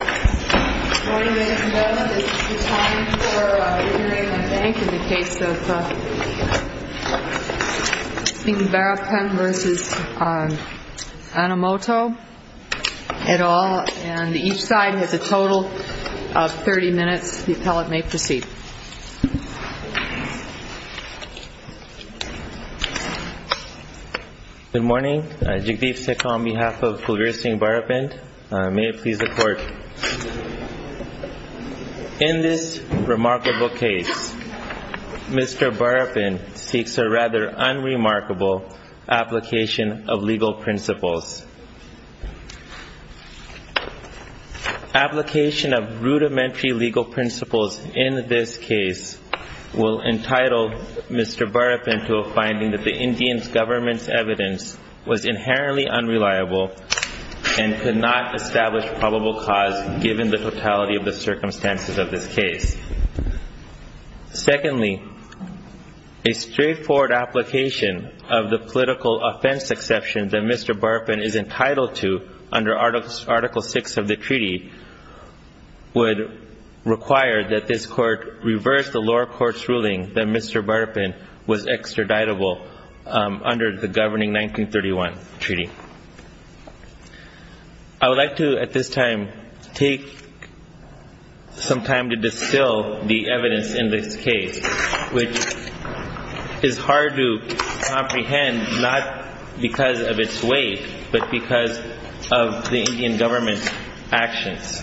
Good morning ladies and gentlemen. This is the time for hearing I think in the case of Singh Barapind v. Enomoto et al. And each side has a total of 30 minutes. The appellate may proceed. Good morning. Jagdeep Sikha on behalf of Kulveer Singh Barapind. May it please the court. In this remarkable case, Mr. Barapind seeks a rather unremarkable application of legal principles. Application of rudimentary legal principles in this case will entitle Mr. Barapind to a finding that the Indian government's evidence was inherently unreliable and could not establish probable cause given the totality of the circumstances of this case. Secondly, a straightforward application of the political offense exception that Mr. Barapind is entitled to under article 6 of the treaty would require that this court reverse the lower court's ruling that Mr. Barapind was extraditable under the governing 1931 treaty. I would like to at this time take some time to distill the evidence in this case, which is hard to comprehend not because of its weight, but because of the Indian government's actions.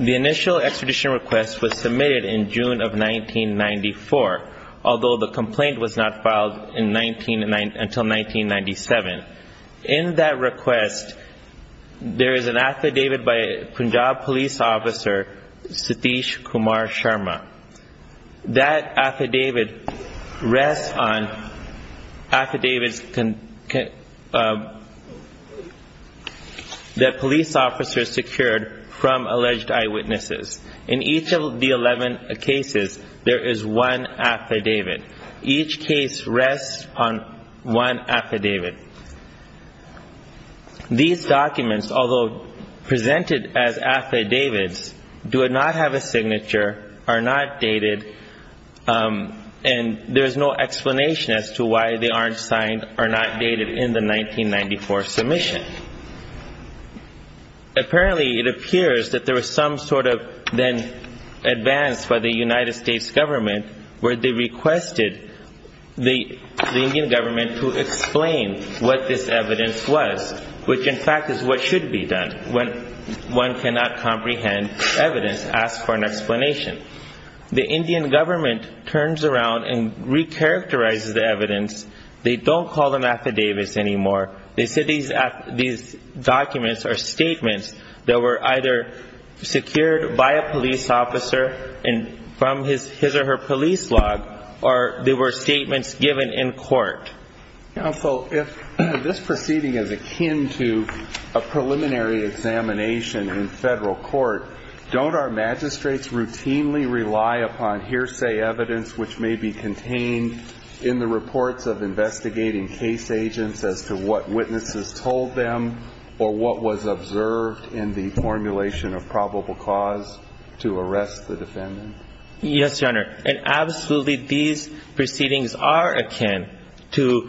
The initial extradition request was submitted in June of 1994, although the complaint was not filed until 1997. In that request, there is an affidavit by Punjab police officer Satish Kumar Sharma. That affidavit rests on affidavits that police officers secured from alleged eyewitnesses. In each of the 11 cases, there is one affidavit. Each case rests on one affidavit. These documents, although presented as affidavits, do not have a signature, are not dated, and there is no explanation as to why they aren't signed or not dated in the 1994 submission. Apparently, it appears that there was some sort of advance by the United States government where they requested the Indian government to explain what this evidence was, which in fact is what should be done when one cannot comprehend evidence, ask for an explanation. The Indian government turns around and recharacterizes the evidence. They don't call them affidavits anymore. They said these documents are statements that were either secured by a police officer from his or her police log, or they were statements given in court. Counsel, if this proceeding is akin to a preliminary examination in federal court, don't our magistrates routinely rely upon hearsay evidence which may be contained in the reports of investigating case agents as to what witnesses told them or what was observed in the formulation of probable cause to arrest the defendant? Yes, Your Honor. And absolutely, these proceedings are akin to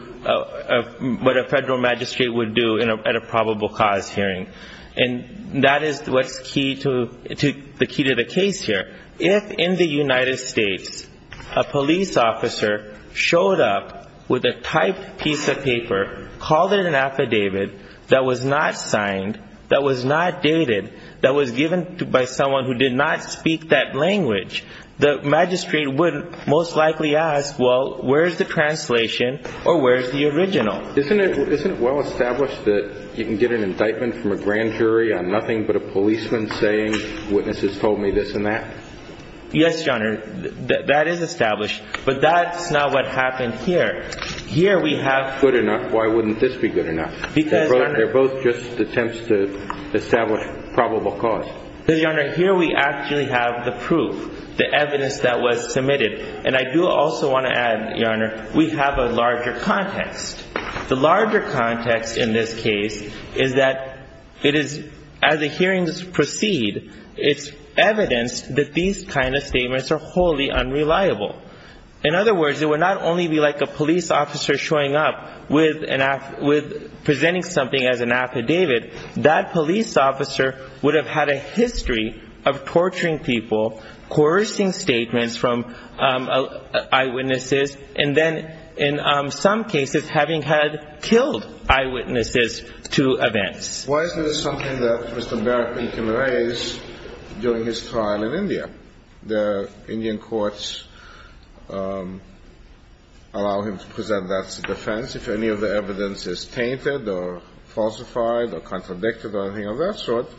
what a federal magistrate would do at a probable cause hearing. And that is what's key to the case here. If in the United States, a police officer showed up with a typed piece of paper, called it an affidavit that was not signed, that was not dated, that was given by someone who did not speak that language, the magistrate would most likely ask, well, where's the translation or where's the original? Isn't it well established that you can get an indictment from a grand jury on nothing but a policeman saying witnesses told me this and that? Yes, Your Honor. That is established. But that's not what happened here. Here we have... Good enough. Why wouldn't this be good enough? Because... They're both just attempts to establish probable cause. Because, Your Honor, here we actually have the proof, the evidence that was submitted. And I do also want to add, Your Honor, we have a larger context. The larger context in this case is that it is, as the hearings proceed, it's evidenced that these kind of statements are wholly unreliable. In other words, it would not only be like a police officer showing up presenting something as an affidavit, that police officer would have had a history of torturing people, coercing statements from eyewitnesses, and then, in some cases, having had killed eyewitnesses to events. Why isn't this something that Mr. Barak can raise during his trial in India? The Indian courts allow him to present that as a defense. If any of the evidence is tainted or falsified or contradicted or anything of that sort,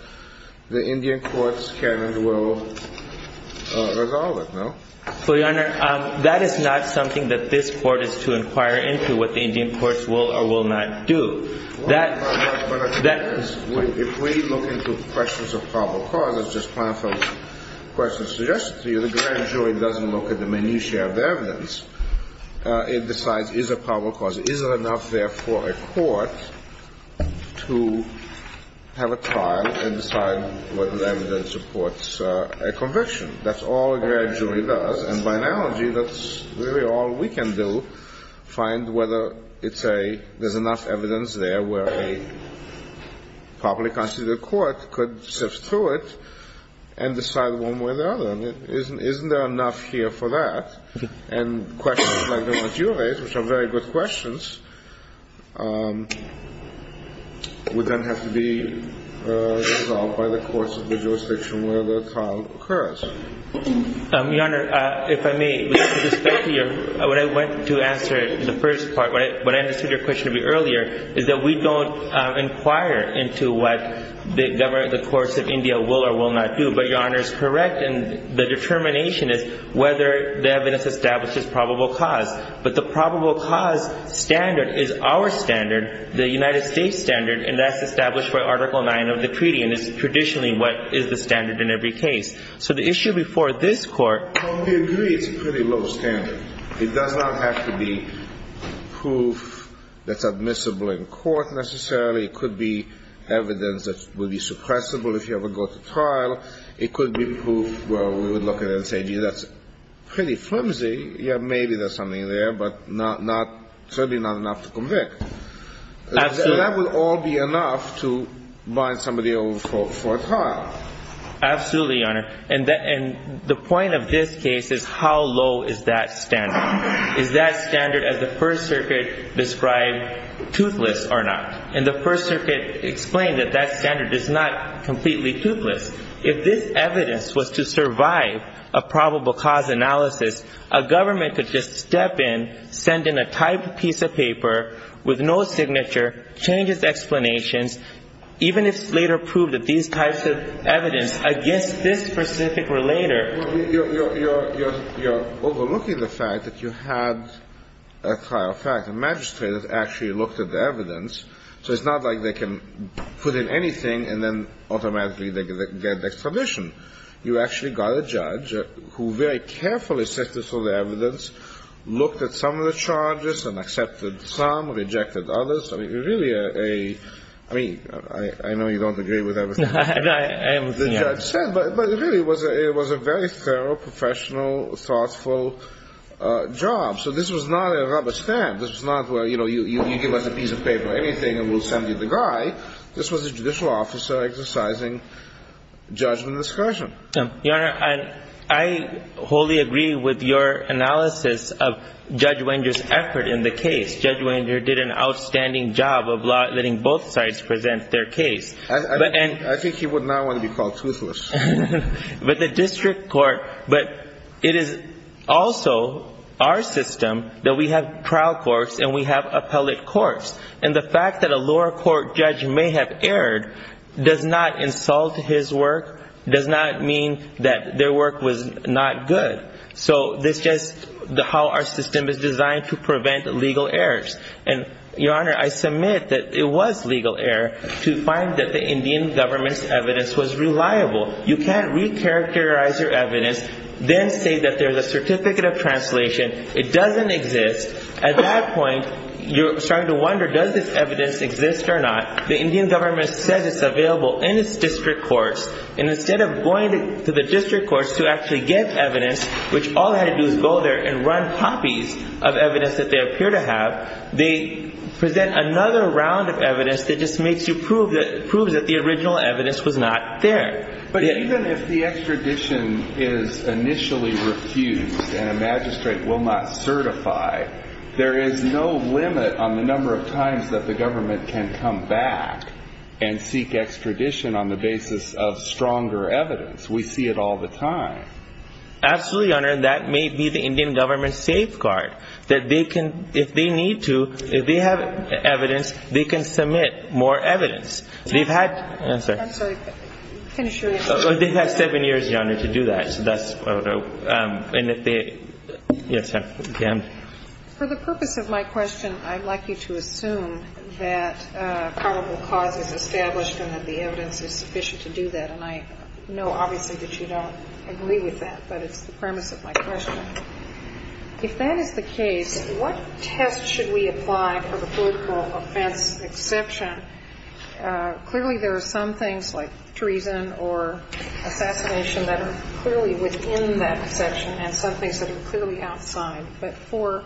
the Indian courts can and will resolve it, no? Well, Your Honor, that is not something that this Court is to inquire into, what the Indian courts will or will not do. That... If we look into questions of probable cause, as Justice Planoff's question suggests to you, the grand jury doesn't look at the minutiae of the evidence. It decides, is a probable cause, is it enough there for a court to have a trial and decide whether the evidence supports a conviction? That's all a grand jury does. And by analogy, that's really all we can do, find whether it's a, there's enough evidence there where a properly constituted court could sift through it and decide one way or the other. Isn't there enough here for that? And questions like the one you raised, which are very good questions, would then have to be resolved by the courts of the jurisdiction where the trial occurs. Your Honor, if I may, with respect to your, when I went to answer the first part, when I understood your question to be earlier, is that we don't inquire into what the government, the courts of India will or will not do. But Your Honor is correct, and the determination is whether the evidence establishes probable cause. But the probable cause standard is our standard, the United States standard, and that's established by Article 9 of the treaty. And it's traditionally what is the standard in every case. So the issue before this Court... It does not have to be proof that's admissible in court necessarily. It could be evidence that would be suppressible if you ever go to trial. It could be proof where we would look at it and say, gee, that's pretty flimsy. Yeah, maybe there's something there, but certainly not enough to convict. Absolutely. That would all be enough to bind somebody over for a trial. Absolutely, Your Honor. And the point of this case is how low is that standard? Is that standard, as the First Circuit described, toothless or not? And the First Circuit explained that that standard is not completely toothless. If this evidence was to survive a probable cause analysis, a government could just step in, send in a typed piece of paper with no signature, change its explanations, even if it's later proved that these types of evidence against this specific relator... You actually got a judge who very carefully assessed this evidence, looked at some of the charges and accepted some, rejected others. I mean, really a... I mean, I know you don't agree with everything the judge said, but really it was a very thorough, professional, thoughtful job. So this was not a rubber stamp. This was not where, you know, you give us a piece of paper, anything, and we'll send you the guy. This was a judicial officer exercising judgment discussion. Your Honor, I wholly agree with your analysis of Judge Wenger's effort in the case. Judge Wenger did an outstanding job of letting both sides present their case. I think he would not want to be called toothless. But the district court, but it is also our system that we have trial courts and we have appellate courts. And the fact that a lower court judge may have erred does not insult his work, does not mean that their work was not good. So this is just how our system is designed to prevent legal errors. And, Your Honor, I submit that it was legal error to find that the Indian government's evidence was reliable. You can't recharacterize your evidence, then say that there's a certificate of translation. It doesn't exist. At that point, you're starting to wonder, does this evidence exist or not? The Indian government says it's available in its district courts. And instead of going to the district courts to actually get evidence, which all they had to do was go there and run copies of evidence that they appear to have, they present another round of evidence that just makes you prove that the original evidence was not there. But even if the extradition is initially refused and a magistrate will not certify, there is no limit on the number of times that the government can come back and seek extradition on the basis of stronger evidence. We see it all the time. Absolutely, Your Honor, that may be the Indian government's safeguard, that they can, if they need to, if they have evidence, they can submit more evidence. They've had seven years, Your Honor, to do that. For the purpose of my question, I'd like you to assume that probable cause is established and that the evidence is sufficient to do that. And I know, obviously, that you don't agree with that, but it's the premise of my question. If that is the case, what test should we apply for the political offense exception? Clearly, there are some things like treason or assassination that are clearly within that exception and some things that are clearly outside. But for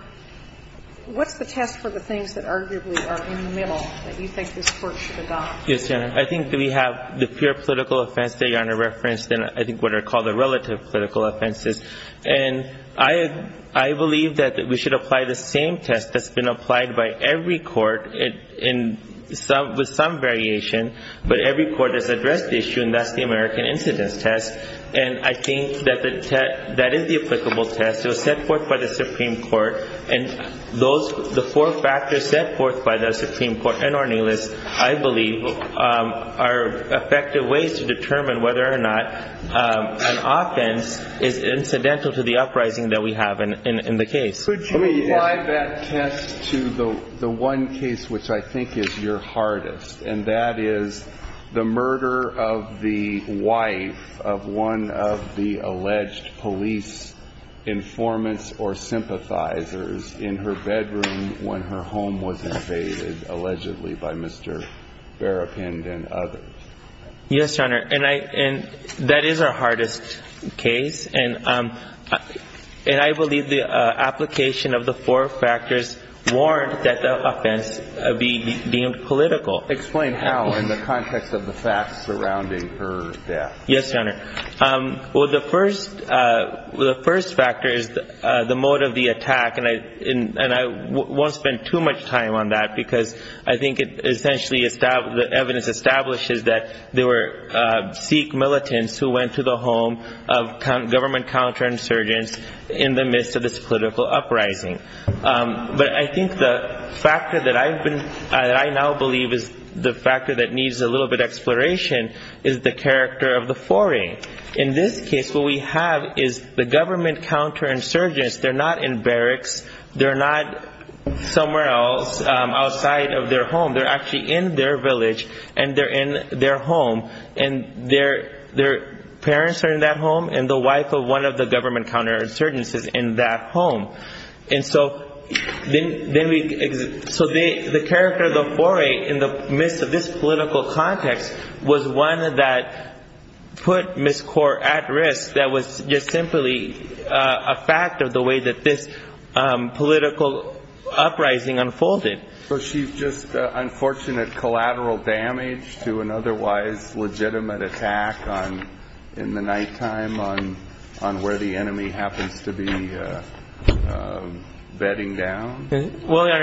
what's the test for the things that arguably are in the middle that you think this Court should adopt? Yes, Your Honor. I think we have the pure political offense that Your Honor referenced, and I think what are called the relative political offenses. And I believe that we should apply the same test that's been applied by every court with some variation, but every court has addressed the issue, and that's the American incidence test. And I think that that is the applicable test. It was set forth by the Supreme Court, and the four factors set forth by the Supreme Court and Ornelas, I believe, are effective ways to determine whether or not an offense is incidental to the uprising that we have in the case. Could you apply that test to the one case which I think is your hardest, and that is the murder of the wife of one of the alleged police informants or sympathizers in her bedroom when her home was invaded, allegedly by Mr. Berrapind and others? Yes, Your Honor, and that is our hardest case, and I believe the application of the four factors warrant that the offense be deemed political. Explain how in the context of the facts surrounding her death. Yes, Your Honor. Well, the first factor is the motive of the attack, and I won't spend too much time on that, because I think essentially the evidence establishes that there were Sikh militants who went to the home of government counterinsurgents in the midst of this political uprising. But I think the factor that I now believe is the factor that needs a little bit of exploration is the character of the foreign. In this case, what we have is the government counterinsurgents, they're not in barracks, they're not somewhere else outside of their home, they're actually in their village, and they're in their home, and their parents are in that home and the wife of one of the government counterinsurgents is in that home. And so the character of the foreign in the midst of this political context was one that put Ms. Kaur at risk that was just simply a fact of the way that this political uprising unfolded. So she's just unfortunate collateral damage to an otherwise legitimate attack in the nighttime on where the enemy happens to be bedding down? Well, Your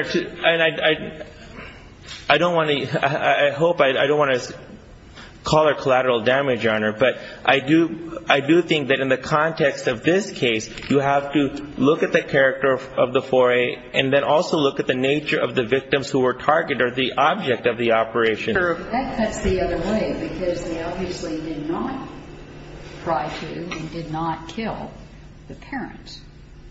Honor, I hope I don't want to call it collateral damage, Your Honor, but I do think that in the context of this case, you have to look at the character of the foreign and then also look at the nature of the victims who were targeted or the object of the operation. That cuts the other way, because they obviously did not try to and did not kill the parents.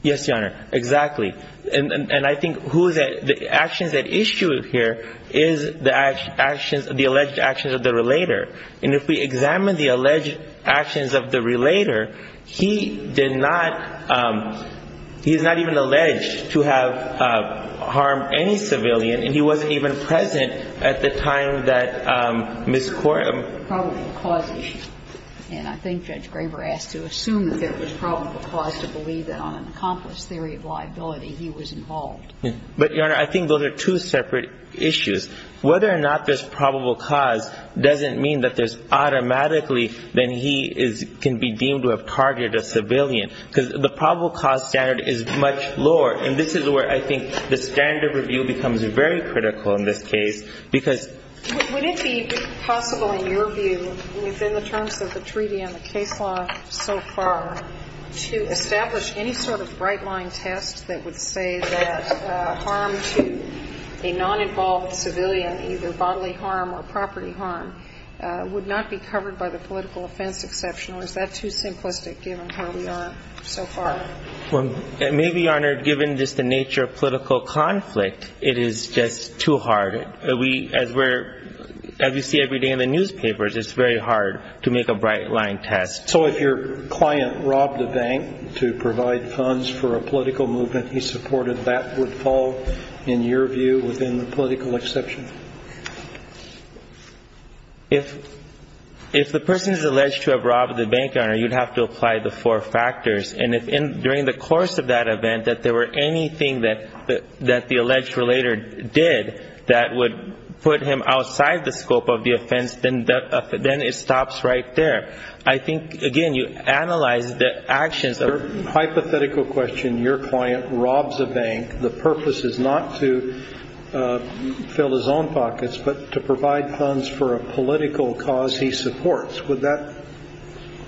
Yes, Your Honor, exactly. And I think the actions that issue here is the alleged actions of the relator. And if we examine the alleged actions of the relator, he did not, he's not even alleged to have harmed any civilian and he wasn't even present at the time that Ms. Kaur was killed. So I think there's a problem of causation. And I think Judge Graber asked to assume that there was probable cause to believe that on an accomplice theory of liability, he was involved. But, Your Honor, I think those are two separate issues. Whether or not there's probable cause doesn't mean that there's automatically that he can be deemed to have targeted a civilian, because the probable cause standard is much lower. And this is where I think the standard of review becomes very critical in this case, because Would it be possible, in your view, within the terms of the treaty and the case law so far, to establish any sort of right-line test that would say that harm to a non-involved civilian, either bodily harm or property harm, would not be covered by the political offense exception? Or is that too simplistic, given where we are so far? Maybe, Your Honor, given just the nature of political conflict, it is just too hard. As we see every day in the newspapers, it's very hard to make a right-line test. So if your client robbed a bank to provide funds for a political movement he supported, that would fall, in your view, within the political exception? If the person is alleged to have robbed the bank, Your Honor, you'd have to apply the four factors. And if, during the course of that event, that there were anything that the alleged relator did that would put him outside the scope of the offense, then it stops right there. I think, again, you analyze the actions of Your hypothetical question, your client robs a bank, the purpose is not to fill his own pockets, but to provide funds for a political cause he supports. Would that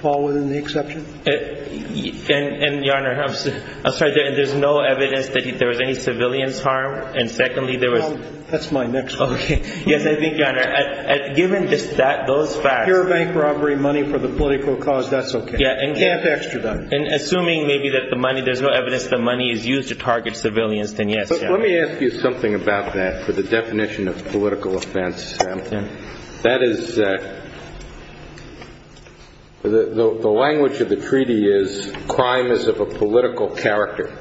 fall within the exception? And, Your Honor, I'm sorry. There's no evidence that there was any civilian's harm? And secondly, there was That's my next one. Okay. Yes, I think, Your Honor, given those facts Pure bank robbery, money for the political cause, that's okay. Can't extradite. And assuming maybe that the money, there's no evidence that money is used to target civilians, then yes, Your Honor. Let me ask you something about that for the definition of political offense. That is, the language of the treaty is crime is of a political character.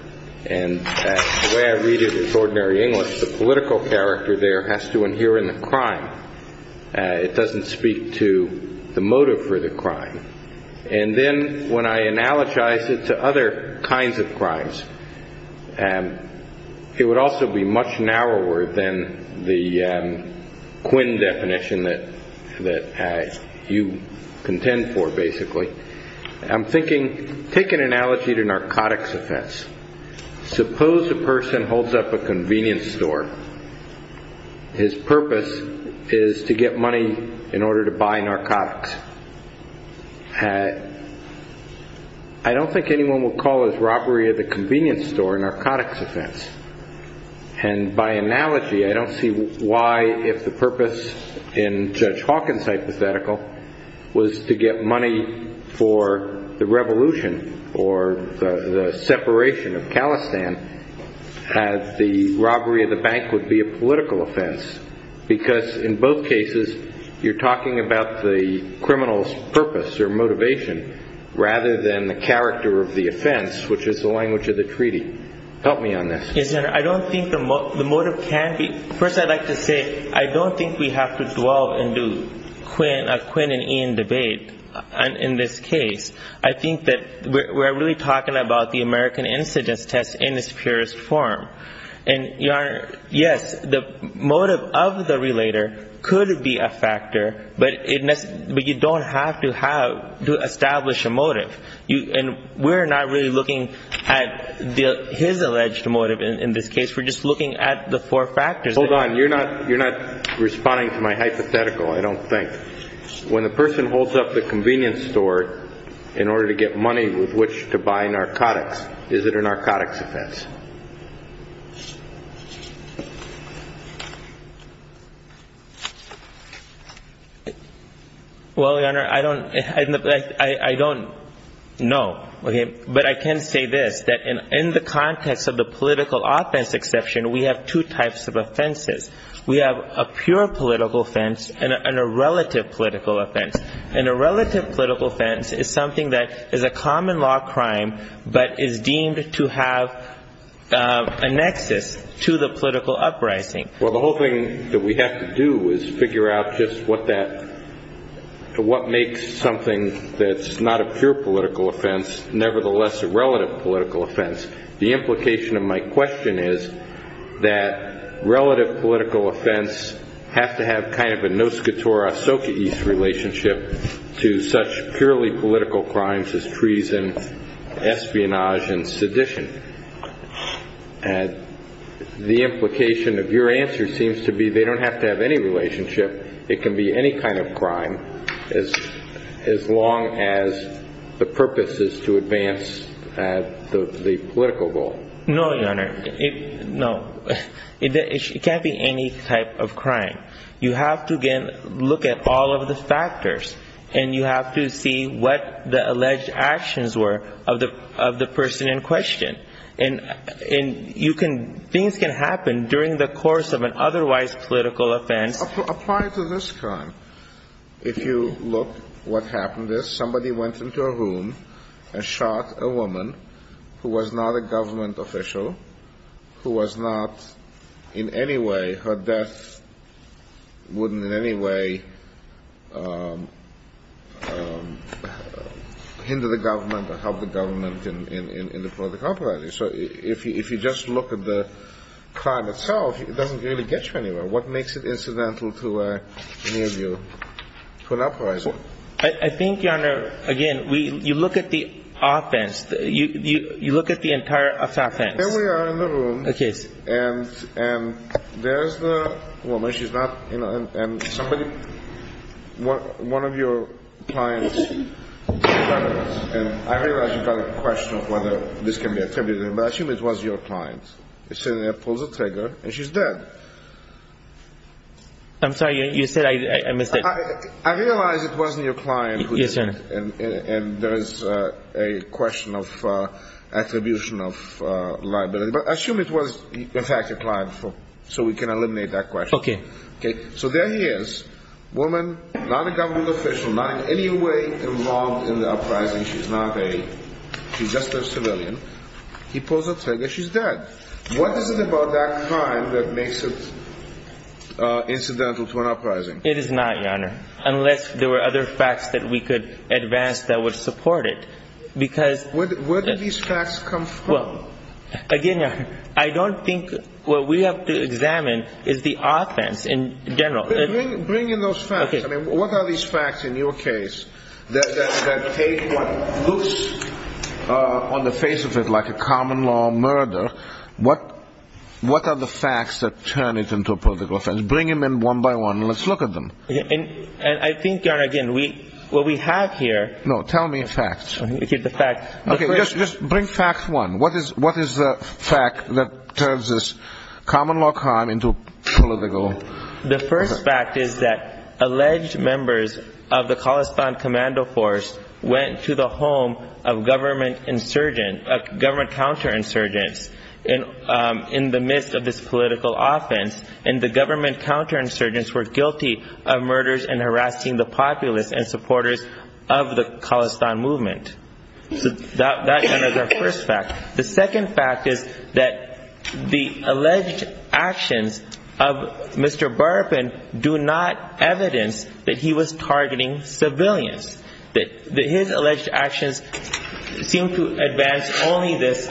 And the way I read it is ordinary English. The political character there has to adhere in the crime. It doesn't speak to the motive for the crime. And then when I analogize it to other kinds of crimes, it would also be much narrower than the Quinn definition that you contend for, basically. I'm thinking, take an analogy to narcotics offense. Suppose a person holds up a convenience store. His purpose is to get money in order to buy narcotics. I don't think anyone would call his robbery of the convenience store a narcotics offense. And by analogy, I don't see why, if the purpose in Judge Hawkins' hypothetical was to get money for the revolution or the separation of Khalistan, that the robbery of the bank would be a political offense. Because in both cases, you're talking about the criminal's purpose or motivation rather than the character of the offense, which is the language of the treaty. Help me on this. Yes, Your Honor, I don't think the motive can be. First, I'd like to say I don't think we have to dwell and do a Quinn and Ian debate in this case. I think that we're really talking about the American incidence test in its purest form. And, Your Honor, yes, the motive of the relator could be a factor, but you don't have to establish a motive. And we're not really looking at his alleged motive in this case. We're just looking at the four factors. Hold on. You're not responding to my hypothetical, I don't think. When the person holds up the convenience store in order to get money with which to buy narcotics, is it a narcotics offense? Well, Your Honor, I don't know. But I can say this, that in the context of the political offense exception, we have two types of offenses. We have a pure political offense and a relative political offense. And a relative political offense is something that is a common law crime but is deemed to have a negative effect on the person. A nexus to the political uprising. Well, the whole thing that we have to do is figure out just what makes something that's not a pure political offense nevertheless a relative political offense. The implication of my question is that relative political offense has to have kind of a nos catura sociais relationship to such purely political crimes as treason, espionage, and sedition. And the implication of your answer seems to be they don't have to have any relationship. It can be any kind of crime as long as the purpose is to advance the political goal. No, Your Honor. No. It can't be any type of crime. You have to, again, look at all of the factors and you have to see what the alleged actions were of the person in question. And things can happen during the course of an otherwise political offense. Apply to this crime. If you look what happened is somebody went into a room and shot a woman who was not a government official, who was not in any way her death wouldn't in any way hinder the government or help the government in the political process. So if you just look at the crime itself, it doesn't really get you anywhere. What makes it incidental to any of you to an uprising? I think, Your Honor, again, you look at the offense. You look at the entire offense. Here we are in the room. Okay. And there's the woman. She's not in. And somebody, one of your clients, I realize you've got a question of whether this can be attributed. But assume it was your client. He's sitting there, pulls the trigger, and she's dead. I'm sorry. You said I missed it. I realize it wasn't your client. Yes, sir. And there is a question of attribution of liability. But assume it was, in fact, your client, so we can eliminate that question. Okay. So there he is, woman, not a government official, not in any way involved in the uprising. She's just a civilian. He pulls the trigger. She's dead. What is it about that crime that makes it incidental to an uprising? It is not, Your Honor, unless there were other facts that we could advance that would support it because Where did these facts come from? Again, Your Honor, I don't think what we have to examine is the offense in general. Bring in those facts. Okay. I mean, what are these facts in your case that take what looks on the face of it like a common law murder? What are the facts that turn it into a political offense? Bring them in one by one. Let's look at them. And I think, Your Honor, again, what we have here No, tell me facts. Okay, just bring fact one. What is the fact that turns this common law crime into political offense? The first fact is that alleged members of the Khalistan Commando Force went to the home of government insurgents, government counterinsurgents, in the midst of this political offense, and the government counterinsurgents were guilty of murders and harassing the populace and supporters of the Khalistan movement. So that is our first fact. The second fact is that the alleged actions of Mr. Burpin do not evidence that he was targeting civilians, that his alleged actions seem to advance only this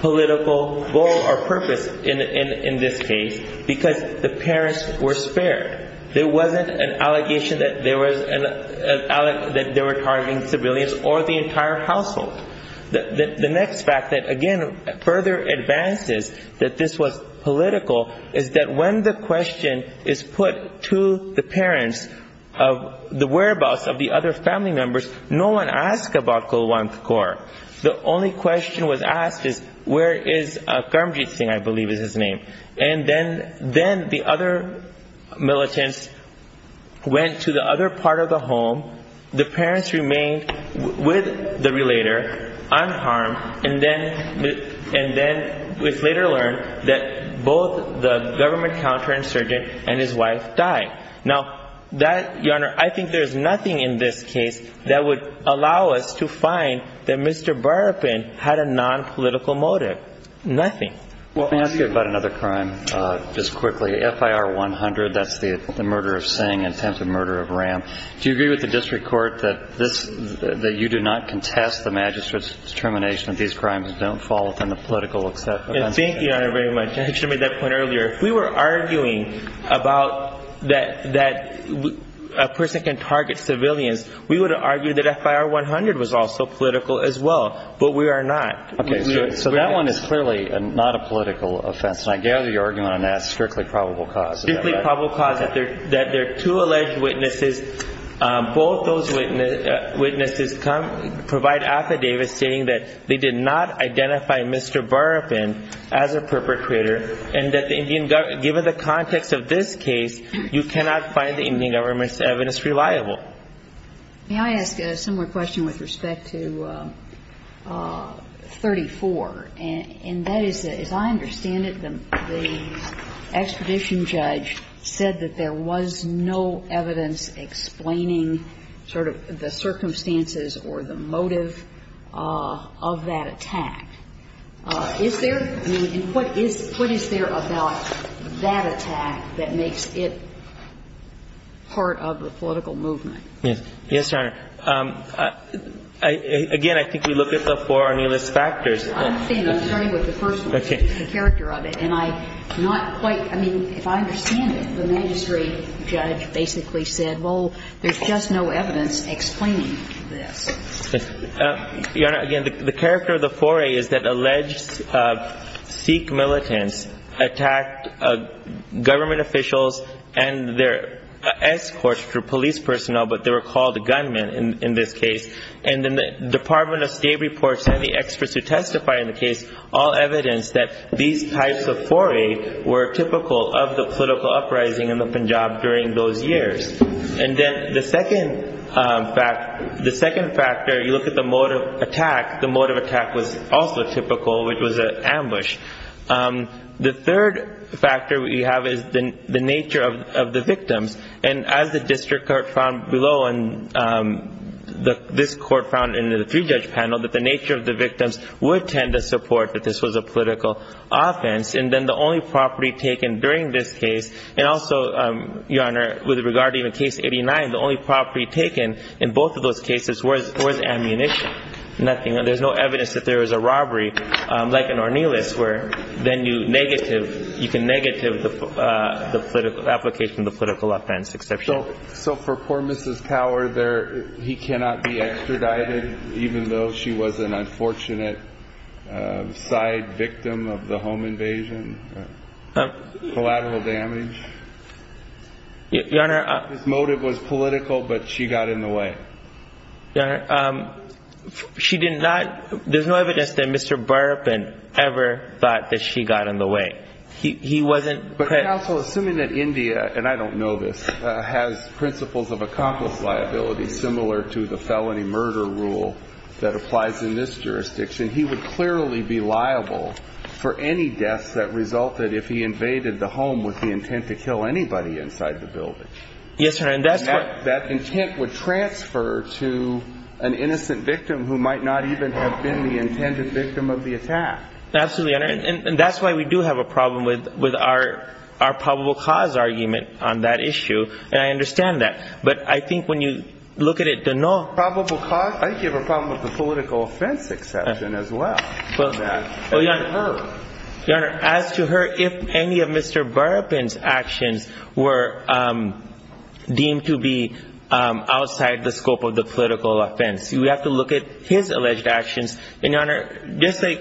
political goal or purpose in this case because the parents were spared. There wasn't an allegation that they were targeting civilians or the entire household. The next fact that, again, further advances that this was political is that when the question is put to the parents of the whereabouts of the other family members, no one asked about Kulwant Corps. The only question was asked is, where is Karamjit Singh, I believe is his name. And then the other militants went to the other part of the home, the parents remained with the relator unharmed, and then it was later learned that both the government counterinsurgent and his wife died. Now, Your Honor, I think there is nothing in this case that would allow us to find that Mr. Burpin had a nonpolitical motive. Nothing. Let me ask you about another crime just quickly. FIR 100, that's the murder of Singh, attempted murder of Ram. Do you agree with the district court that you do not contest the magistrate's determination that these crimes don't fall within the political acceptance? Thank you, Your Honor, very much. I should have made that point earlier. If we were arguing about that a person can target civilians, we would argue that FIR 100 was also political as well, but we are not. Okay. So that one is clearly not a political offense, and I gather your argument on that is strictly probable cause. Strictly probable cause that there are two alleged witnesses. Both those witnesses provide affidavits stating that they did not identify Mr. Burpin as a perpetrator and that given the context of this case, you cannot find the Indian government's evidence reliable. May I ask a similar question with respect to 34? And that is, as I understand it, the expedition judge said that there was no evidence explaining sort of the circumstances or the motive of that attack. Is there, I mean, and what is there about that attack that makes it part of the political movement? Yes. Yes, Your Honor. Again, I think we look at the four on your list of factors. I'm saying I'm starting with the first one, the character of it. And I'm not quite, I mean, if I understand it, the magistrate judge basically said, well, there's just no evidence explaining this. Your Honor, again, the character of the foray is that alleged Sikh militants attacked government officials and their escorts for police personnel, but they were called gunmen in this case. And then the Department of State reports and the experts who testify in the case all evidence that these types of foray were typical of the political uprising in the Punjab during those years. And then the second fact, the second factor, you look at the mode of attack, the mode of attack was also typical, which was an ambush. The third factor we have is the nature of the victims. And as the district court found below, and this court found in the three-judge panel, that the nature of the victims would tend to support that this was a political offense. And then the only property taken during this case, and also, Your Honor, with regard to even case 89, the only property taken in both of those cases was ammunition. Nothing, there's no evidence that there was a robbery, like in Ornelas, where then you negative, you can negative the political application, the political offense exception. So for poor Mrs. Power, he cannot be extradited, even though she was an unfortunate side victim of the home invasion? Collateral damage? Your Honor. His motive was political, but she got in the way. Your Honor, she did not, there's no evidence that Mr. Burpin ever thought that she got in the way. But counsel, assuming that India, and I don't know this, has principles of accomplice liability similar to the felony murder rule that applies in this jurisdiction, he would clearly be liable for any deaths that resulted if he invaded the home with the intent to kill anybody inside the building. Yes, Your Honor. And that intent would transfer to an innocent victim who might not even have been the intended victim of the attack. Absolutely, Your Honor. And that's why we do have a problem with our probable cause argument on that issue, and I understand that. But I think when you look at it, the non-probable cause, I think you have a problem with the political offense exception as well. Well, Your Honor, as to her, if any of Mr. Burpin's actions were deemed to be outside the scope of the political offense, we have to look at his alleged actions. And, Your Honor, just like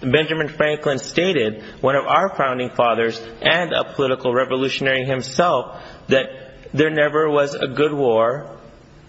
Benjamin Franklin stated, one of our founding fathers and a political revolutionary himself, that there never was a good war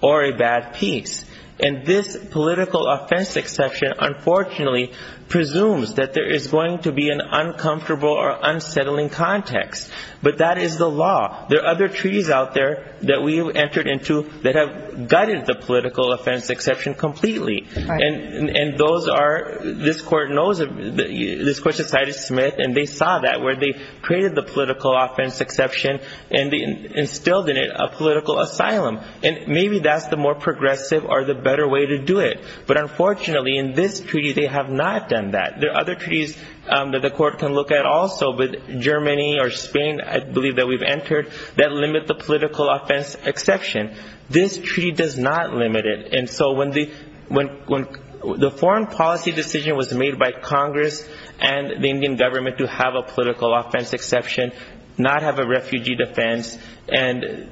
or a bad peace. And this political offense exception, unfortunately, presumes that there is going to be an uncomfortable or unsettling context. But that is the law. There are other treaties out there that we have entered into that have gutted the political offense exception completely. And those are, this Court knows, this Court decided to submit, and they saw that, where they created the political offense exception and instilled in it a political asylum. And maybe that's the more progressive or the better way to do it. But unfortunately, in this treaty, they have not done that. There are other treaties that the Court can look at also with Germany or Spain, I believe, that we've entered, that limit the political offense exception. This treaty does not limit it. And so when the foreign policy decision was made by Congress and the Indian government to have a political offense exception, not have a refugee defense, and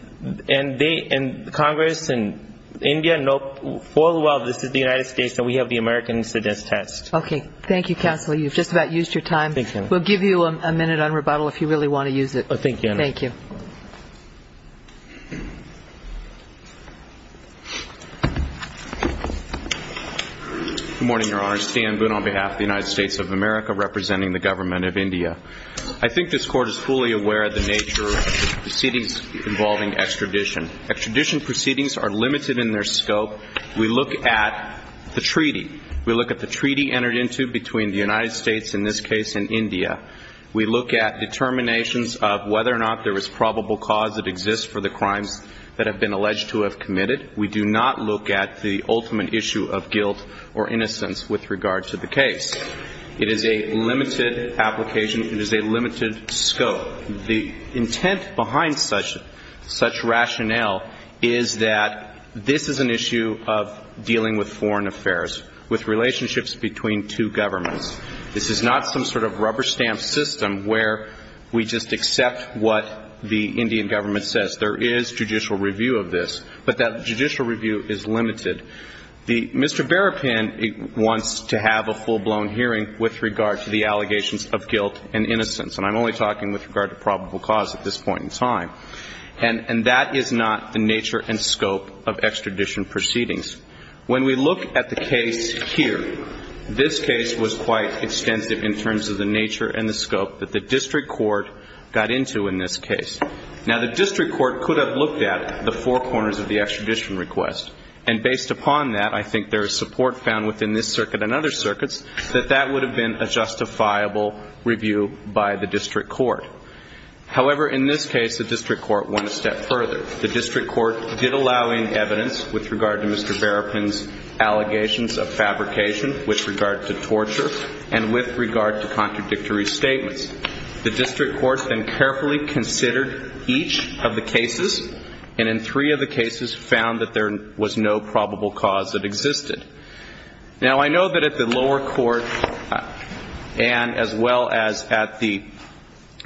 Congress and India know full well this is the United States and we have the American incidence test. Okay. Thank you, Counselor. You've just about used your time. We'll give you a minute on rebuttal if you really want to use it. Thank you. Thank you. Good morning, Your Honor. Stan Boone on behalf of the United States of America, representing the Government of India. I think this Court is fully aware of the nature of the proceedings involving extradition. Extradition proceedings are limited in their scope. We look at the treaty. We look at the treaty entered into between the United States, in this case, and India. It exists for the crimes that have been alleged to have committed. We do not look at the ultimate issue of guilt or innocence with regard to the case. It is a limited application. It is a limited scope. The intent behind such rationale is that this is an issue of dealing with foreign affairs, with relationships between two governments. This is not some sort of rubber-stamp system where we just accept what the Indian government says. There is judicial review of this, but that judicial review is limited. Mr. Berrapin wants to have a full-blown hearing with regard to the allegations of guilt and innocence, and I'm only talking with regard to probable cause at this point in time. And that is not the nature and scope of extradition proceedings. When we look at the case here, this case was quite extensive in terms of the nature and the scope that the district court got into in this case. Now, the district court could have looked at the four corners of the extradition request, and based upon that, I think there is support found within this circuit and other circuits that that would have been a justifiable review by the district court. However, in this case, the district court went a step further. The district court did allow any evidence with regard to Mr. Berrapin's allegations of fabrication, with regard to torture, and with regard to contradictory statements. The district court then carefully considered each of the cases, and in three of the cases found that there was no probable cause that existed. Now, I know that at the lower court and as well as at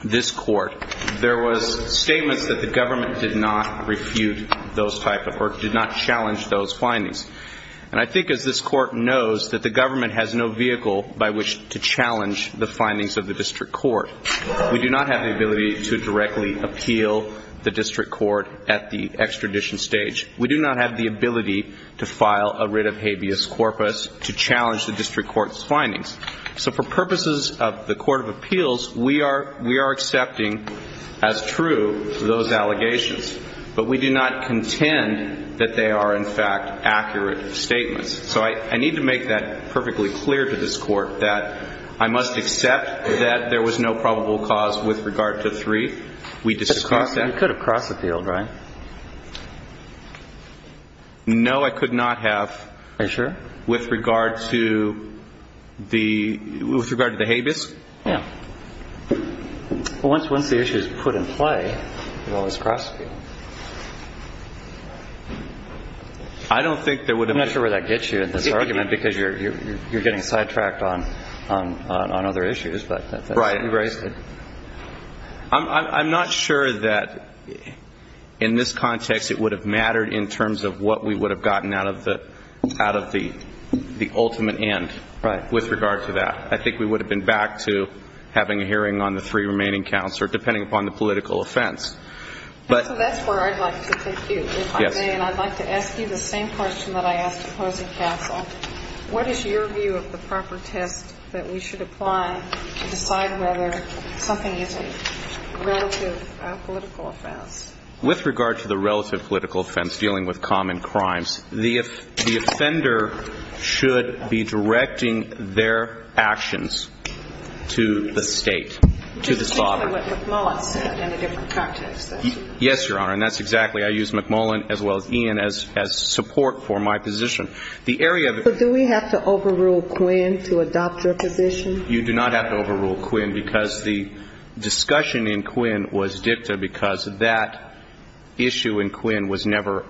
this court, there was statements that the government did not refute those type of or did not challenge those findings. And I think as this court knows, that the government has no vehicle by which to challenge the findings of the district court. We do not have the ability to directly appeal the district court at the extradition stage. We do not have the ability to file a writ of habeas corpus to challenge the district court's findings. So for purposes of the court of appeals, we are accepting as true those allegations, but we do not contend that they are, in fact, accurate statements. So I need to make that perfectly clear to this court, that I must accept that there was no probable cause with regard to three. We disagree with that. But you could have cross-appealed, right? No, I could not have. Are you sure? With regard to the habeas? Yeah. Well, once the issue is put in play, you can always cross-appeal. I don't think there would have been. I'm not sure where that gets you in this argument, because you're getting sidetracked on other issues. Right. I'm not sure that, in this context, it would have mattered in terms of what we would have gotten out of the ultimate end. Right. With regard to that. I think we would have been back to having a hearing on the three remaining counts, or depending upon the political offense. And so that's where I'd like to take you, if I may. And I'd like to ask you the same question that I asked Opposing Counsel. What is your view of the proper test that we should apply to decide whether something is a relative political offense? With regard to the relative political offense, dealing with common crimes, the offender should be directing their actions to the State, to the father. To the State and what McMullen said in a different context. Yes, Your Honor. And that's exactly why I use McMullen as well as Ian as support for my position. The area of the But do we have to overrule Quinn to adopt your position? You do not have to overrule Quinn because the discussion in Quinn was dicta because that issue in Quinn was never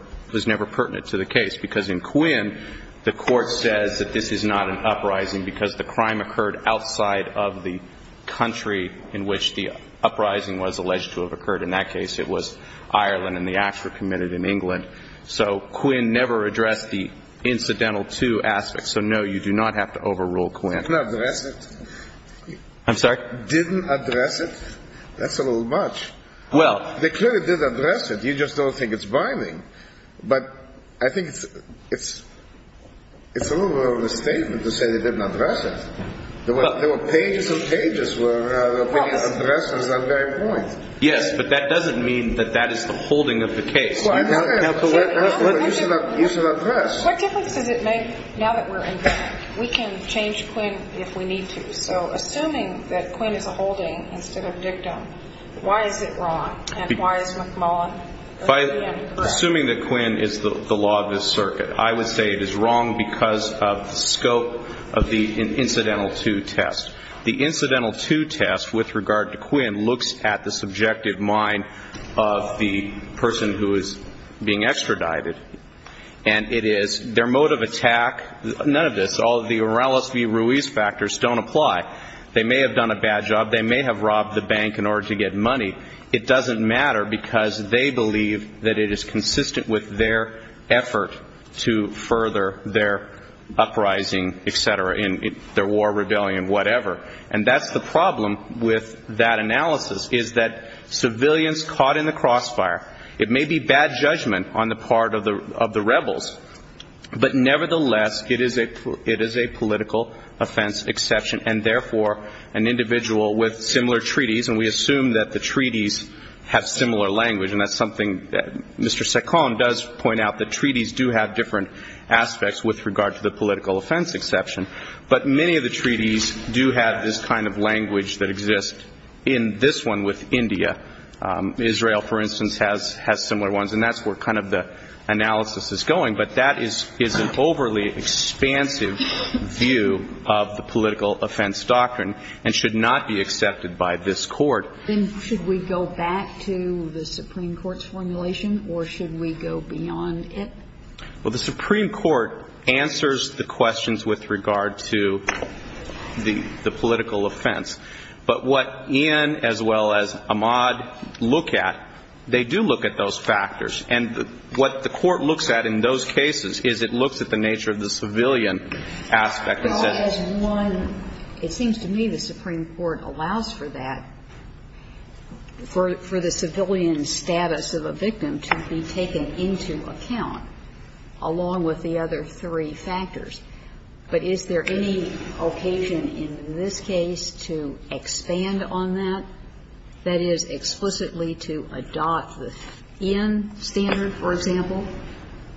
pertinent to the case. Because in Quinn, the Court says that this is not an uprising because the crime occurred outside of the country in which the uprising was alleged to have occurred. In that case, it was Ireland and the acts were committed in England. So Quinn never addressed the incidental two aspects. So, no, you do not have to overrule Quinn. I didn't address it. I'm sorry? I didn't address it. That's a little much. Well. They clearly did address it. You just don't think it's binding. But I think it's a little bit of a misstatement to say they didn't address it. There were pages and pages where the opinion addresses that very point. Yes, but that doesn't mean that that is the holding of the case. Now, what difference does it make now that we're in Quinn? We can change Quinn if we need to. So, assuming that Quinn is a holding instead of dicta, why is it wrong? And why is McMullen correct? Assuming that Quinn is the law of this circuit, I would say it is wrong because of the scope of the incidental two test. The incidental two test, with regard to Quinn, looks at the subjective mind of the person who is being extradited. And it is their mode of attack, none of this, all of the Uralis v. Ruiz factors don't apply. They may have done a bad job. They may have robbed the bank in order to get money. It doesn't matter because they believe that it is consistent with their effort to further their uprising, et cetera, in their war rebellion, whatever. And that's the problem with that analysis, is that civilians caught in the crossfire, it may be bad judgment on the part of the rebels, but nevertheless, it is a political offense exception. And therefore, an individual with similar treaties, and we assume that the treaties have similar language, and that's something that Mr. Saccone does point out, that treaties do have different aspects with regard to the political offense exception. But many of the treaties do have this kind of language that exists. In this one with India, Israel, for instance, has similar ones. And that's where kind of the analysis is going. But that is an overly expansive view of the political offense doctrine and should not be accepted by this Court. Then should we go back to the Supreme Court's formulation or should we go beyond it? Well, the Supreme Court answers the questions with regard to the political offense. But what Ian as well as Ahmad look at, they do look at those factors. And what the Court looks at in those cases is it looks at the nature of the civilian aspect. Well, as one, it seems to me the Supreme Court allows for that, for the civilian status of a victim to be taken into account, along with the other three factors. But is there any occasion in this case to expand on that, that is, explicitly to adopt the Ian standard, for example?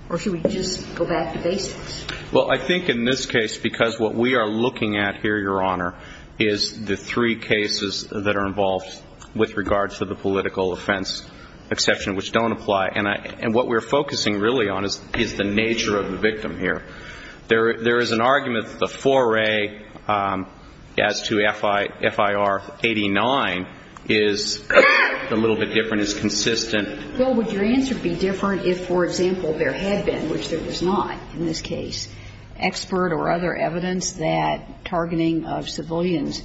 Or should we just go back to basics? Well, I think in this case, because what we are looking at here, Your Honor, is the three cases that are involved with regard to the political offense exception which don't apply. And what we're focusing really on is the nature of the victim here. There is an argument that the foray as to FIR 89 is a little bit different, is consistent. Well, would your answer be different if, for example, there had been, which there was not in this case, expert or other evidence that targeting of civilians